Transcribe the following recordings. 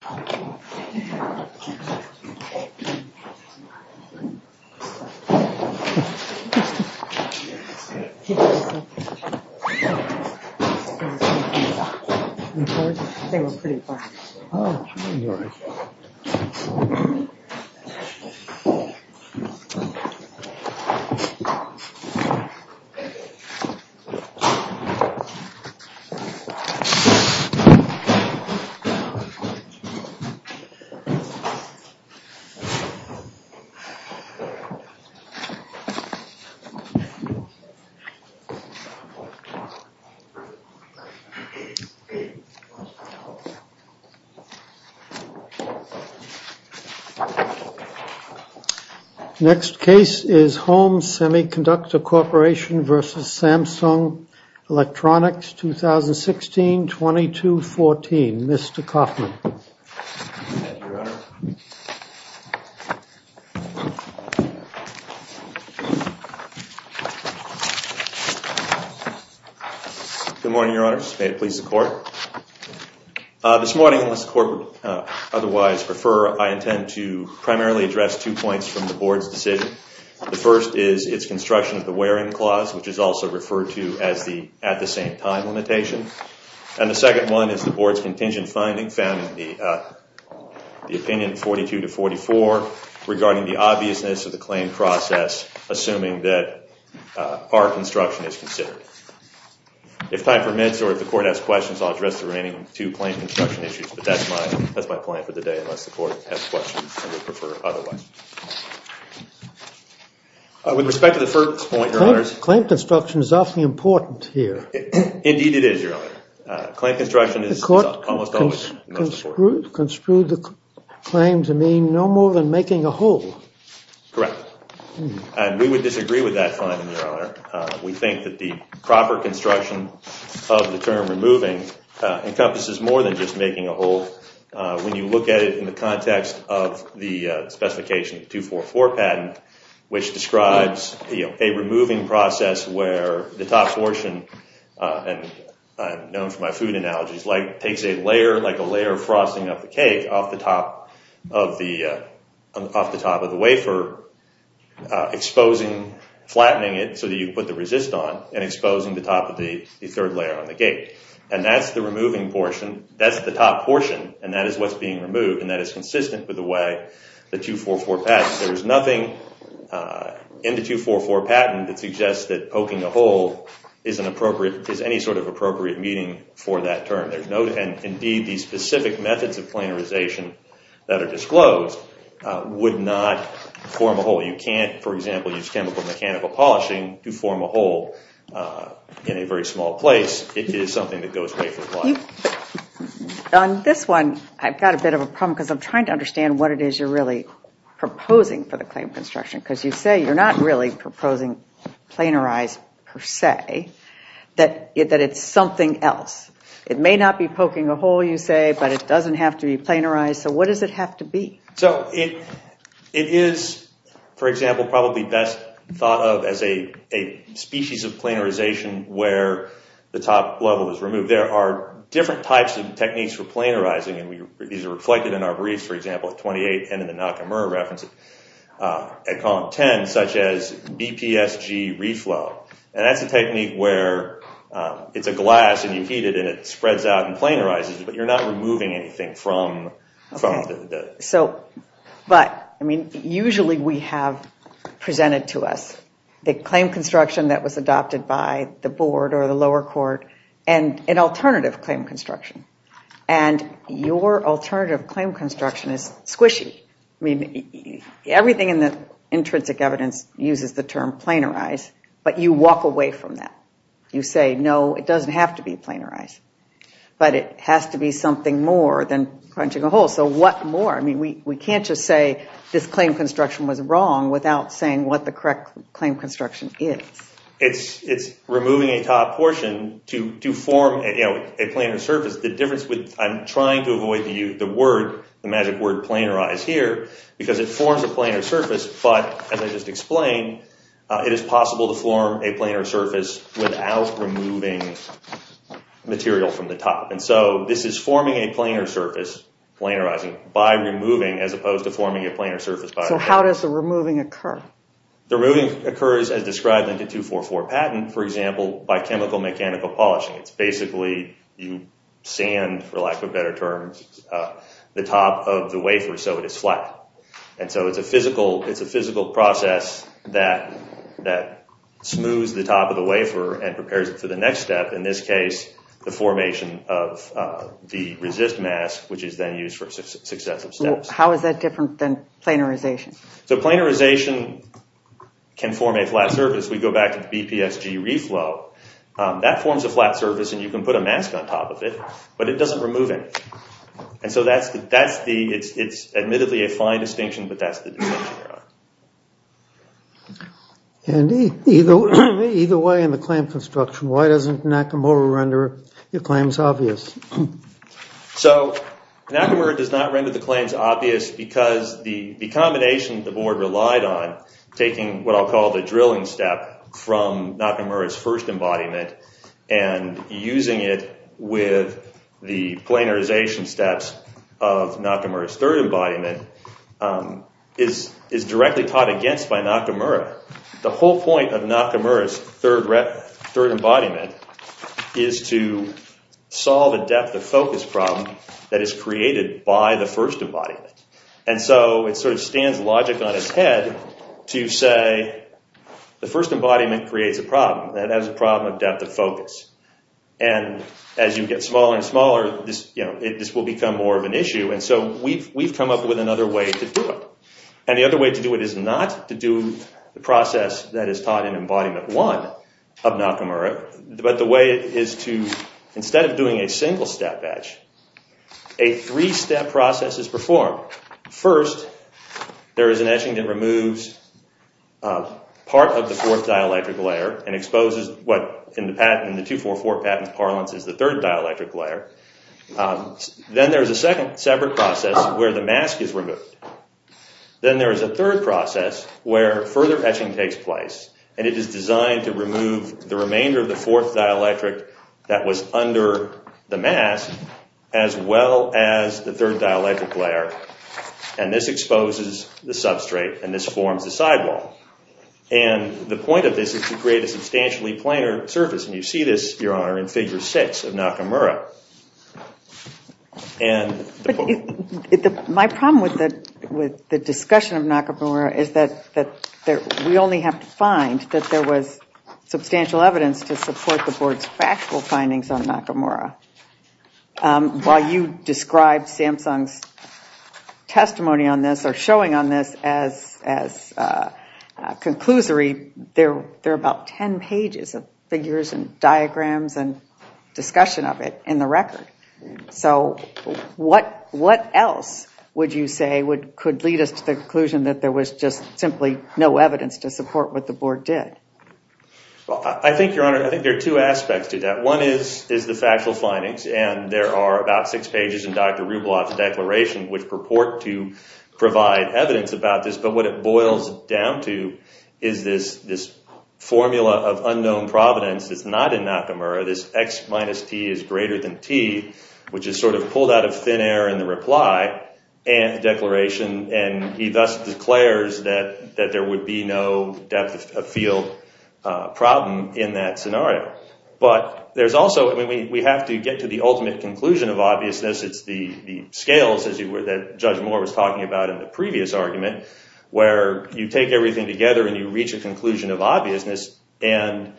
Samsung Electronics Co., Ltd. Samsung Electronics Co., Ltd. Home Semiconductor Corporation v. Samsung Electronics Co., Ltd. Good morning, Your Honors. May it please the Court. This morning, unless the Court would otherwise prefer, I intend to primarily address two points from the Board's decision. The first is its construction of the Wearing Clause, which is also referred to as the at-the-same-time limitation. And the second one is the Board's contingent finding, found in the opinion 42 to 44, regarding the obviousness of the claim process, assuming that our construction is considered. If time permits, or if the Court has questions, I'll address the remaining two claim construction issues, but that's my plan for the day, unless the Court has questions and would prefer otherwise. With respect to the first point, Your Honors. Claim construction is awfully important here. Indeed it is, Your Honor. Claim construction is almost always important. The Court construed the claim to mean no more than making a hole. Correct. And we would disagree with that finding, Your Honor. We think that the proper construction of the term removing encompasses more than just making a hole. When you look at it in the context of the specification 244 patent, which describes a removing process where the top portion, and I'm known for my food analogies, takes a layer, like a layer frosting up the cake, off the top of the wafer, exposing, flattening it so that you can put the resist on, and exposing the top of the third layer on the gate. And that's the removing portion, that's the top portion, and that is what's being removed, and that is consistent with the way the 244 patent. There is nothing in the 244 patent that suggests that poking a hole is any sort of appropriate meaning for that term. Indeed, the specific methods of planarization that are disclosed would not form a hole. You can't, for example, use chemical mechanical polishing to form a hole in a very small place. It is something that goes away for a while. On this one, I've got a bit of a problem because I'm trying to understand what it is you're really proposing for the claim of construction, because you say you're not really proposing planarized per se, that it's something else. It may not be poking a hole, you say, but it doesn't have to be planarized, so what does it have to be? It is, for example, probably best thought of as a species of planarization where the top level is removed. There are different types of techniques for planarizing, and these are reflected in our briefs, for example, at 28, and in the Nakamura reference at column 10, such as BPSG reflow. That's a technique where it's a glass, and you heat it, and it spreads out and planarizes, but you're not removing anything from the… Usually, we have presented to us the claim construction that was adopted by the board or the lower court, and an alternative claim construction, and your alternative claim construction is squishy. I mean, everything in the intrinsic evidence uses the term planarized, but you walk away from that. You say, no, it doesn't have to be planarized, but it has to be something more than punching a hole, so what more? I mean, we can't just say this claim construction was wrong without saying what the correct claim construction is. It's removing a top portion to form a planar surface. I'm trying to avoid the magic word planarized here because it forms a planar surface, but as I just explained, it is possible to form a planar surface without removing material from the top, and so this is forming a planar surface, planarizing, by removing as opposed to forming a planar surface by removing. So how does the removing occur? The removing occurs as described in the 244 patent, for example, by chemical mechanical polishing. It's basically you sand, for lack of a better term, the top of the wafer so it is flat, and so it's a physical process that smooths the top of the wafer and prepares it for the next step, in this case, the formation of the resist mask, which is then used for successive steps. How is that different than planarization? So planarization can form a flat surface. We go back to the BPSG reflow. That forms a flat surface, and you can put a mask on top of it, but it doesn't remove anything, and so it's admittedly a fine distinction, but that's the distinction we're on. And either way in the claim construction, why doesn't Nakamura render the claims obvious? So Nakamura does not render the claims obvious because the combination the board relied on, taking what I'll call the drilling step from Nakamura's first embodiment and using it with the planarization steps of Nakamura's third embodiment, is directly taught against by Nakamura. The whole point of Nakamura's third embodiment is to solve a depth-of-focus problem that is created by the first embodiment, and so it sort of stands logic on its head to say the first embodiment creates a problem, and that is a problem of depth-of-focus, and as you get smaller and smaller, this will become more of an issue, and so we've come up with another way to do it, and the other way to do it is not to do the process that is taught in embodiment one of Nakamura, but the way is to, instead of doing a single-step etch, a three-step process is performed. First, there is an etching that removes part of the fourth dielectric layer and exposes what in the 244 patent parlance is the third dielectric layer. Then there is a second separate process where the mask is removed. Then there is a third process where further etching takes place, and it is designed to remove the remainder of the fourth dielectric that was under the mask as well as the third dielectric layer, and this exposes the substrate and this forms the sidewall, and the point of this is to create a substantially planar surface, and you see this, Your Honor, in Figure 6 of Nakamura. My problem with the discussion of Nakamura is that we only have to find that there was substantial evidence to support the Board's factual findings on Nakamura. While you describe Samsung's testimony on this or showing on this as a conclusory, there are about 10 pages of figures and diagrams and discussion of it in the record. So what else would you say could lead us to the conclusion that there was just simply no evidence to support what the Board did? I think, Your Honor, there are two aspects to that. One is the factual findings, and there are about six pages in Dr. Rublev's declaration which purport to provide evidence about this, but what it boils down to is this formula of unknown providence that's not in Nakamura, this X minus T is greater than T, which is sort of pulled out of thin air in the reply declaration, and he thus declares that there would be no depth of field problem in that scenario. But there's also, I mean, we have to get to the ultimate conclusion of obviousness. It's the scales, as Judge Moore was talking about in the previous argument, where you take everything together and you reach a conclusion of obviousness, and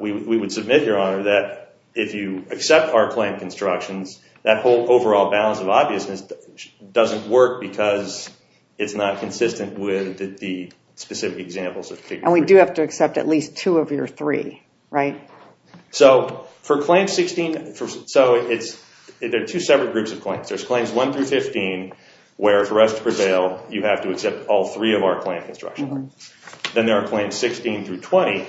we would submit, Your Honor, that if you accept our claim constructions, that whole overall balance of obviousness doesn't work because it's not consistent with the specific examples of Figure 3. And we do have to accept at least two of your three, right? So for Claim 16, there are two separate groups of claims. There's Claims 1 through 15, where for us to prevail, you have to accept all three of our claim constructions. Then there are Claims 16 through 20,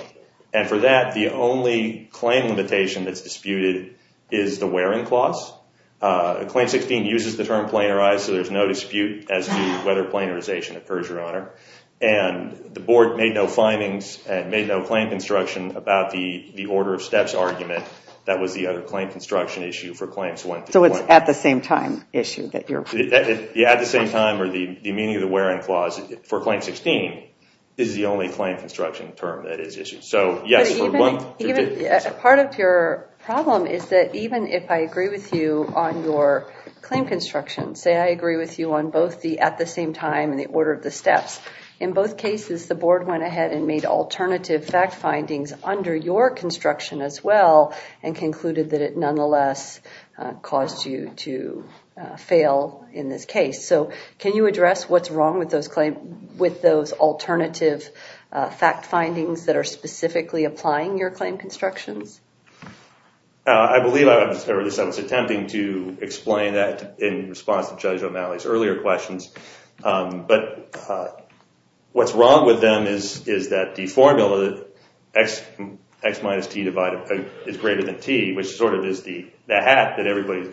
and for that, the only claim limitation that's disputed is the wearing clause. Claim 16 uses the term planarized, so there's no dispute as to whether planarization occurs, Your Honor. And the Board made no findings and made no claim construction about the order of steps argument that was the other claim construction issue for Claims 1 through 20. So it's at the same time issue that you're pointing to? Yeah, at the same time, or the meaning of the wearing clause for Claim 16 is the only claim construction term that is issued. So yes, for 1 through 15. Part of your problem is that even if I agree with you on your claim construction, say I agree with you on both the at the same time and the order of the steps, in both cases, the Board went ahead and made alternative fact findings under your construction as well and concluded that it nonetheless caused you to fail in this case. So can you address what's wrong with those alternative fact findings that are specifically applying your claim constructions? I believe I was attempting to explain that in response to Judge O'Malley's earlier questions. But what's wrong with them is that the formula, x minus t divided by, is greater than t, which sort of is the hat that everybody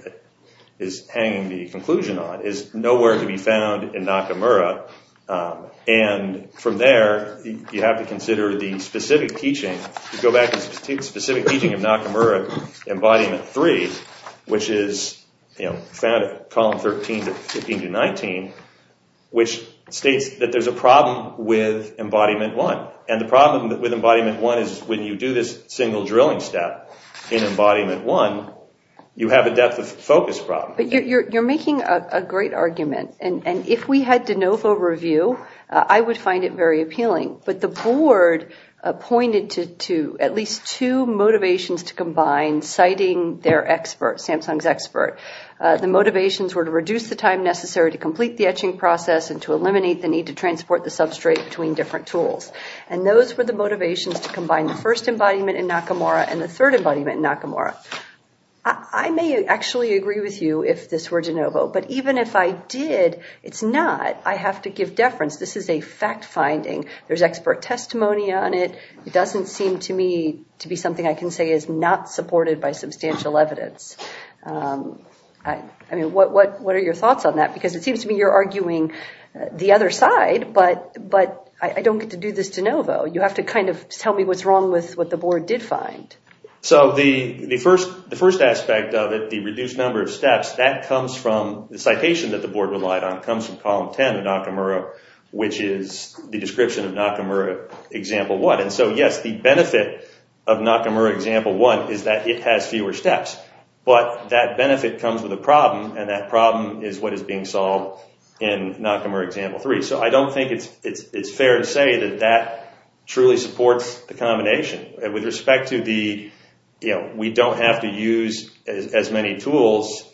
is hanging the conclusion on, is nowhere to be found in Nakamura. And from there, you have to consider the specific teaching, if you go back to the specific teaching of Nakamura, Embodiment 3, which is found in Columns 13-19, which states that there's a problem with Embodiment 1. And the problem with Embodiment 1 is when you do this single drilling step in Embodiment 1, you have a depth of focus problem. You're making a great argument. And if we had de novo review, I would find it very appealing. But the Board pointed to at least two motivations to combine, citing their expert, Samsung's expert. The motivations were to reduce the time necessary to complete the etching process and to eliminate the need to transport the substrate between different tools. And those were the motivations to combine the first embodiment in Nakamura and the third embodiment in Nakamura. I may actually agree with you if this were de novo. But even if I did, it's not. I have to give deference. This is a fact-finding. There's expert testimony on it. It doesn't seem to me to be something I can say is not supported by substantial evidence. I mean, what are your thoughts on that? Because it seems to me you're arguing the other side, but I don't get to do this de novo. You have to kind of tell me what's wrong with what the Board did find. So the first aspect of it, the reduced number of steps, that comes from the citation that the Board relied on. It comes from Column 10 of Nakamura, which is the description of Nakamura Example 1. And so, yes, the benefit of Nakamura Example 1 is that it has fewer steps. But that benefit comes with a problem, and that problem is what is being solved in Nakamura Example 3. So I don't think it's fair to say that that truly supports the combination. With respect to the, you know, we don't have to use as many tools,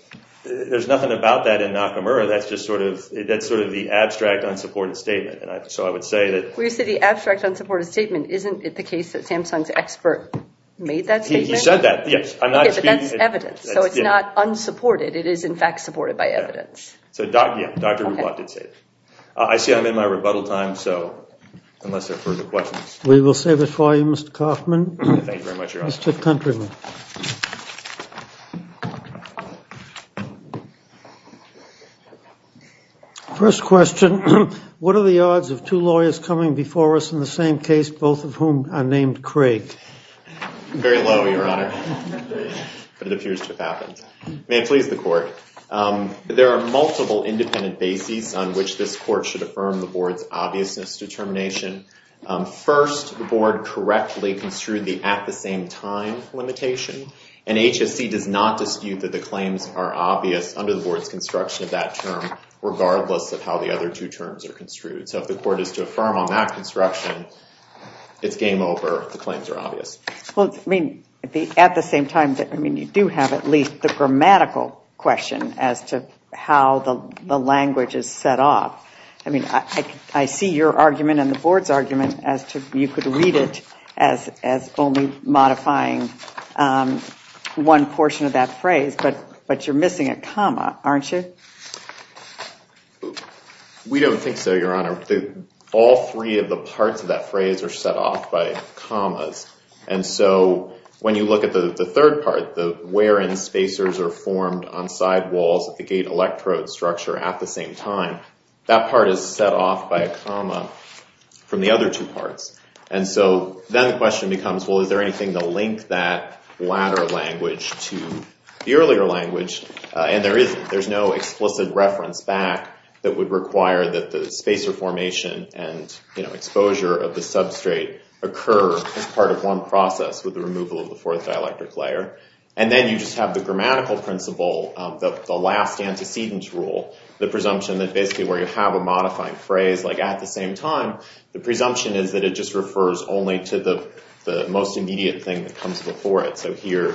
there's nothing about that in Nakamura. That's just sort of the abstract unsupported statement. And so I would say that— Well, you said the abstract unsupported statement. Isn't it the case that Samsung's expert made that statement? He said that, yes. Okay, but that's evidence. So it's not unsupported. It is, in fact, supported by evidence. So, yeah, Dr. Rubot did say that. I see I'm in my rebuttal time, so unless there are further questions. We will save it for you, Mr. Kaufman. Thank you very much, Your Honor. Mr. Countryman. First question, what are the odds of two lawyers coming before us in the same case, both of whom are named Craig? Very low, Your Honor. But it appears to have happened. May it please the court. There are multiple independent bases on which this court should affirm the board's obviousness determination. First, the board correctly construed the at-the-same-time limitation, and HSC does not dispute that the claims are obvious under the board's construction of that term, regardless of how the other two terms are construed. So if the court is to affirm on that construction, it's game over. The claims are obvious. Well, I mean, at the same time, I mean, you do have at least the grammatical question as to how the language is set up. I mean, I see your argument and the board's argument as to you could read it as only modifying one portion of that phrase, but you're missing a comma, aren't you? We don't think so, Your Honor. All three of the parts of that phrase are set off by commas. And so when you look at the third part, the wherein spacers are formed on sidewalls at the gate electrode structure at the same time, that part is set off by a comma from the other two parts. And so then the question becomes, well, is there anything to link that latter language to the earlier language? And there isn't. There's no explicit reference back that would require that the spacer formation and, you know, And then you just have the grammatical principle of the last antecedents rule, the presumption that basically where you have a modifying phrase like at the same time, the presumption is that it just refers only to the most immediate thing that comes before it. So here,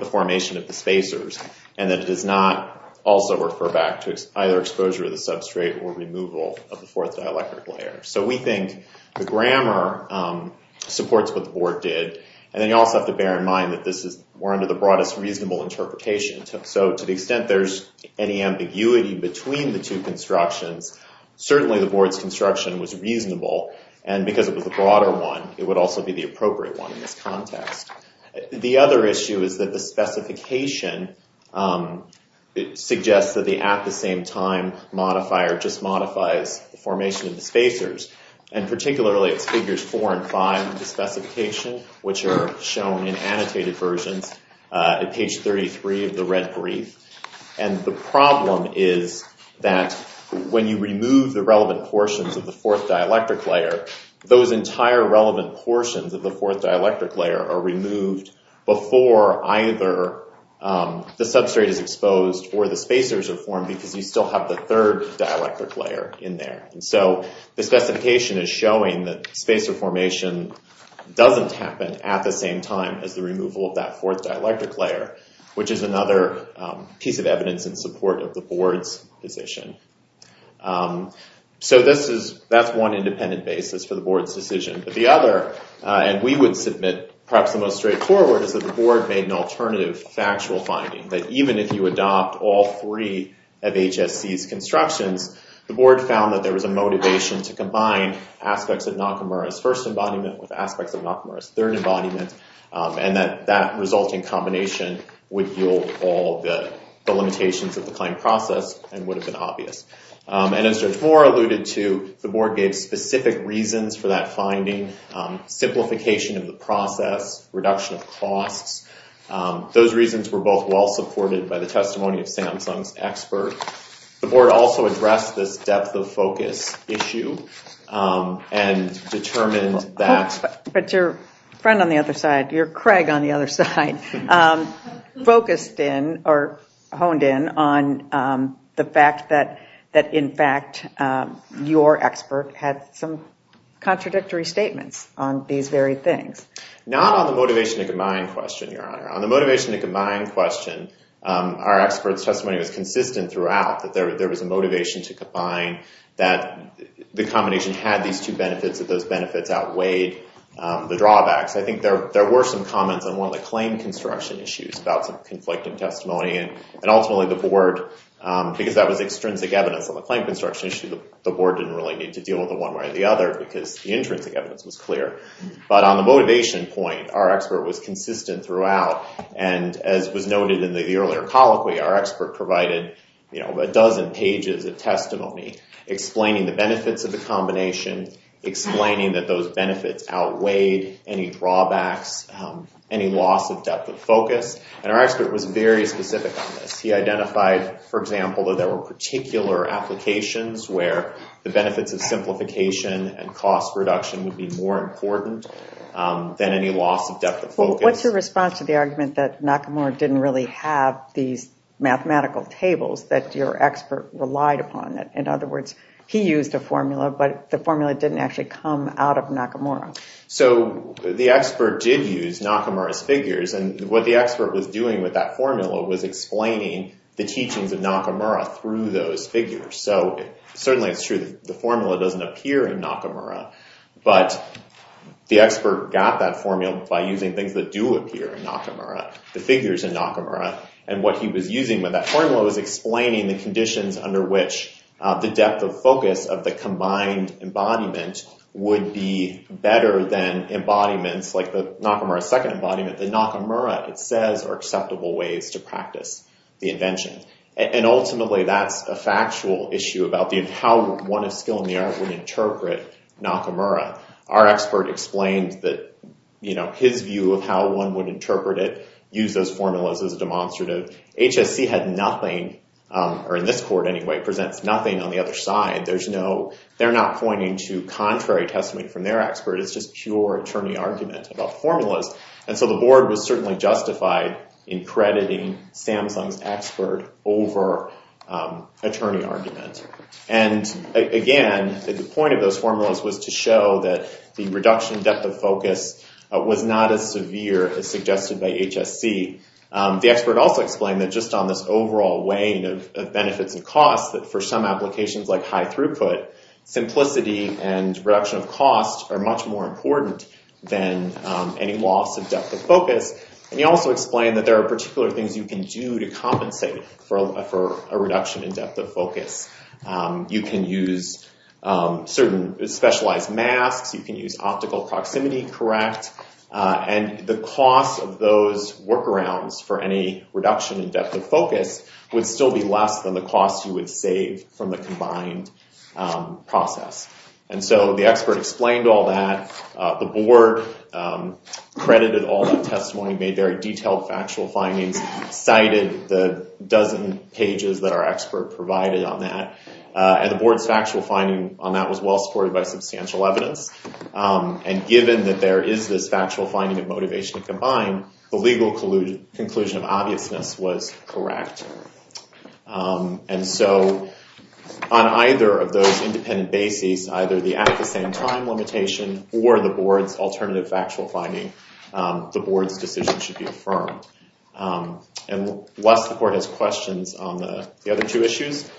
the formation of the spacers, and that it does not also refer back to either exposure of the substrate or removal of the fourth dielectric layer. So we think the grammar supports what the board did. And then you also have to bear in mind that this is more under the broadest reasonable interpretation. So to the extent there's any ambiguity between the two constructions, certainly the board's construction was reasonable. And because it was a broader one, it would also be the appropriate one in this context. The other issue is that the specification suggests that the at the same time modifier just modifies the formation of the spacers. And particularly it's figures four and five in the specification, which are shown in annotated versions at page 33 of the red brief. And the problem is that when you remove the relevant portions of the fourth dielectric layer, those entire relevant portions of the fourth dielectric layer are removed before either the substrate is exposed or the spacers are formed, because you still have the third dielectric layer in there. And so the specification is showing that spacer formation doesn't happen at the same time as the removal of that fourth dielectric layer, which is another piece of evidence in support of the board's position. So that's one independent basis for the board's decision. But the other, and we would submit perhaps the most straightforward, is that the board made an alternative factual finding. That even if you adopt all three of HSC's constructions, the board found that there was a motivation to combine aspects of Nakamura's first embodiment with aspects of Nakamura's third embodiment. And that that resulting combination would yield all the limitations of the claim process and would have been obvious. And as George Moore alluded to, the board gave specific reasons for that finding. Simplification of the process, reduction of costs. Those reasons were both well supported by the testimony of Samsung's expert. The board also addressed this depth of focus issue and determined that... But your friend on the other side, your Craig on the other side, focused in or honed in on the fact that in fact your expert had some contradictory statements on these very things. Not on the motivation to combine question, your honor. On the motivation to combine question, our expert's testimony was consistent throughout. That there was a motivation to combine. That the combination had these two benefits. That those benefits outweighed the drawbacks. I think there were some comments on one of the claim construction issues about some conflicting testimony. And ultimately the board, because that was extrinsic evidence on the claim construction issue, the board didn't really need to deal with it one way or the other because the intrinsic evidence was clear. But on the motivation point, our expert was consistent throughout. And as was noted in the earlier colloquy, our expert provided a dozen pages of testimony. Explaining the benefits of the combination. Explaining that those benefits outweighed any drawbacks, any loss of depth of focus. And our expert was very specific on this. He identified, for example, that there were particular applications where the benefits of simplification and cost reduction would be more important than any loss of depth of focus. What's your response to the argument that Nakamura didn't really have these mathematical tables that your expert relied upon? In other words, he used a formula, but the formula didn't actually come out of Nakamura. So the expert did use Nakamura's figures, and what the expert was doing with that formula was explaining the teachings of Nakamura through those figures. So certainly it's true that the formula doesn't appear in Nakamura, but the expert got that formula by using things that do appear in Nakamura, the figures in Nakamura. And what he was using with that formula was explaining the conditions under which the depth of focus of the combined embodiment would be better than embodiments like Nakamura's second embodiment. The Nakamura, it says, are acceptable ways to practice the invention. And ultimately that's a factual issue about how one of skill and the art would interpret Nakamura. Our expert explained that his view of how one would interpret it, use those formulas as a demonstrative. HSC had nothing, or in this court anyway, presents nothing on the other side. They're not pointing to contrary testimony from their expert. It's just pure attorney argument about formulas. And so the board was certainly justified in crediting Samsung's expert over attorney argument. And again, the point of those formulas was to show that the reduction in depth of focus was not as severe as suggested by HSC. The expert also explained that just on this overall weighing of benefits and costs, that for some applications like high throughput, simplicity and reduction of costs are much more important than any loss of depth of focus. And he also explained that there are particular things you can do to compensate for a reduction in depth of focus. You can use certain specialized masks. You can use optical proximity correct. And the cost of those workarounds for any reduction in depth of focus would still be less than the cost you would save from the combined process. And so the expert explained all that. The board credited all that testimony, made very detailed factual findings, cited the dozen pages that our expert provided on that. And the board's factual finding on that was well supported by substantial evidence. And given that there is this factual finding of motivation to combine, the legal conclusion of obviousness was correct. And so on either of those independent bases, either the at-the-same-time limitation or the board's alternative factual finding, the board's decision should be affirmed. Unless the court has questions on the other two issues,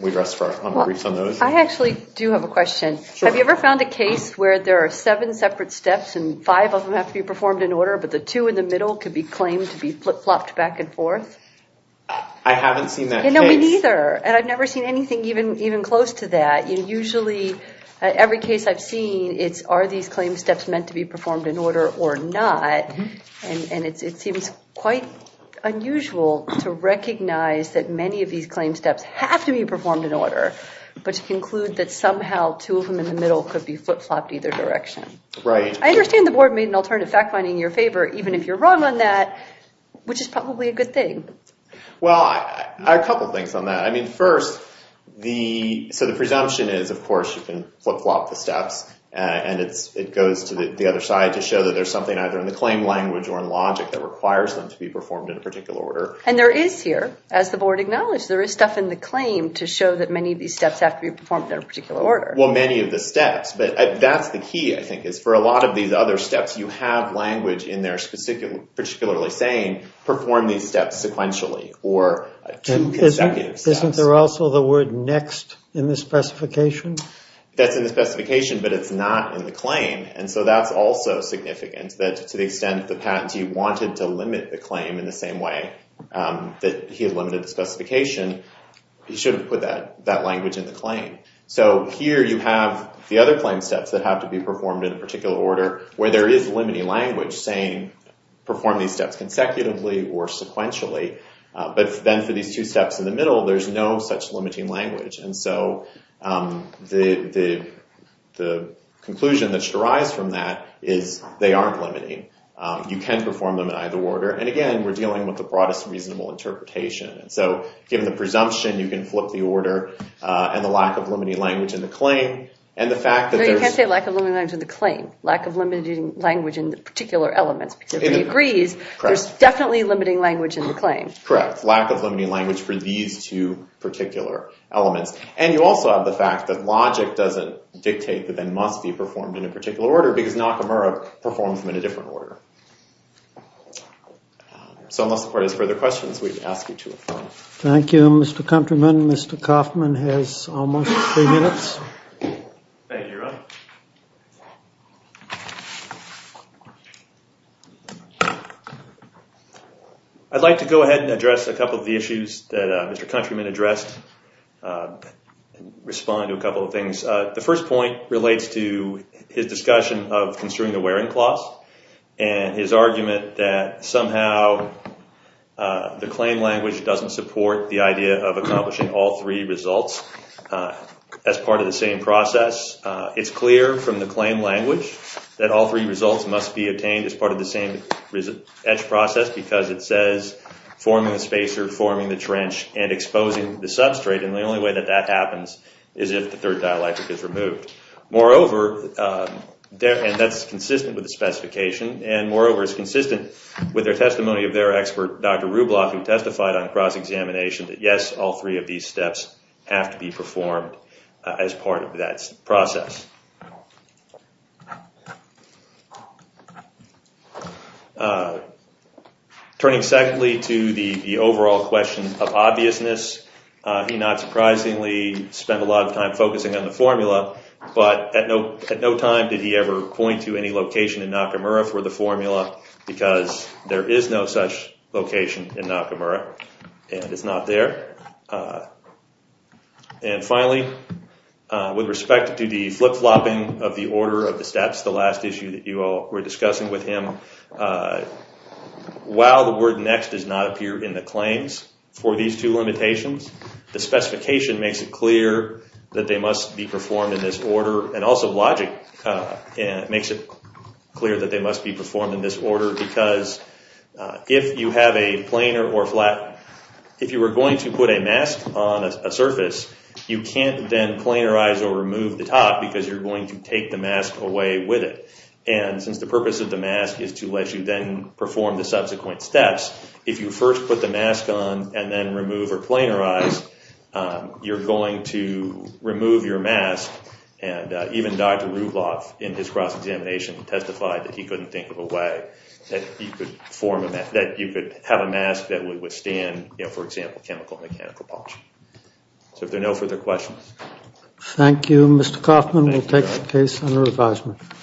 we rest for briefs on those. I actually do have a question. Have you ever found a case where there are seven separate steps and five of them have to be performed in order, but the two in the middle could be claimed to be flopped back and forth? I haven't seen that case. Me neither. And I've never seen anything even close to that. And usually every case I've seen, it's are these claim steps meant to be performed in order or not. And it seems quite unusual to recognize that many of these claim steps have to be performed in order, but to conclude that somehow two of them in the middle could be flip-flopped either direction. Right. I understand the board made an alternative fact finding in your favor, even if you're wrong on that, which is probably a good thing. Well, a couple of things on that. So the presumption is, of course, you can flip-flop the steps, and it goes to the other side to show that there's something either in the claim language or in logic that requires them to be performed in a particular order. And there is here, as the board acknowledged, there is stuff in the claim to show that many of these steps have to be performed in a particular order. Well, many of the steps. But that's the key, I think, is for a lot of these other steps, you have language in there particularly saying, perform these steps sequentially or two consecutive steps. Isn't there also the word next in the specification? That's in the specification, but it's not in the claim. And so that's also significant, that to the extent the patentee wanted to limit the claim in the same way that he had limited the specification, he should have put that language in the claim. So here you have the other claim steps that have to be performed in a particular order where there is limiting language saying, perform these steps consecutively or sequentially. But then for these two steps in the middle, there's no such limiting language. And so the conclusion that derives from that is they aren't limiting. You can perform them in either order. And again, we're dealing with the broadest reasonable interpretation. And so given the presumption, you can flip the order and the lack of limiting language in the claim and the fact that there's— No, you can't say lack of limiting language in the claim. Lack of limiting language in the particular elements because if he agrees, there's definitely limiting language in the claim. Correct. Lack of limiting language for these two particular elements. And you also have the fact that logic doesn't dictate that they must be performed in a particular order because Nakamura performs them in a different order. So unless the court has further questions, we ask you to affirm. Thank you, Mr. Countryman. Mr. Kaufman has almost three minutes. Thank you, Ron. I'd like to go ahead and address a couple of the issues that Mr. Countryman addressed and respond to a couple of things. The first point relates to his discussion of construing the wearing clause and his argument that somehow the claim language doesn't support the idea of accomplishing all three results as part of the same process. It's clear from the claim language that all three results must be obtained as part of the same process because it says forming the spacer, forming the trench, and exposing the substrate. And the only way that that happens is if the third dialectic is removed. Moreover, and that's consistent with the specification, and moreover, it's consistent with the testimony of their expert, Dr. Rubloff, who testified on cross-examination that yes, all three of these steps have to be performed as part of that process. Turning secondly to the overall question of obviousness, he not surprisingly spent a lot of time focusing on the formula, but at no time did he ever point to any location in Nakamura for the formula because there is no such location in Nakamura and it's not there. And finally, with respect to the flip-flopping of the order of the steps, the last issue that you all were discussing with him, while the word next does not appear in the claims for these two limitations, the specification makes it clear that they must be performed in this order, and also logic makes it clear that they must be performed in this order because if you were going to put a mask on a surface, you can't then planarize or remove the top because you're going to take the mask away with it. And since the purpose of the mask is to let you then perform the subsequent steps, if you first put the mask on and then remove or planarize, you're going to remove your mask. Even Dr. Rublev in his cross-examination testified that he couldn't think of a way that you could have a mask that would withstand, for example, chemical and mechanical puncture. So if there are no further questions. Thank you. Mr. Kaufman, we'll take the case under advisement.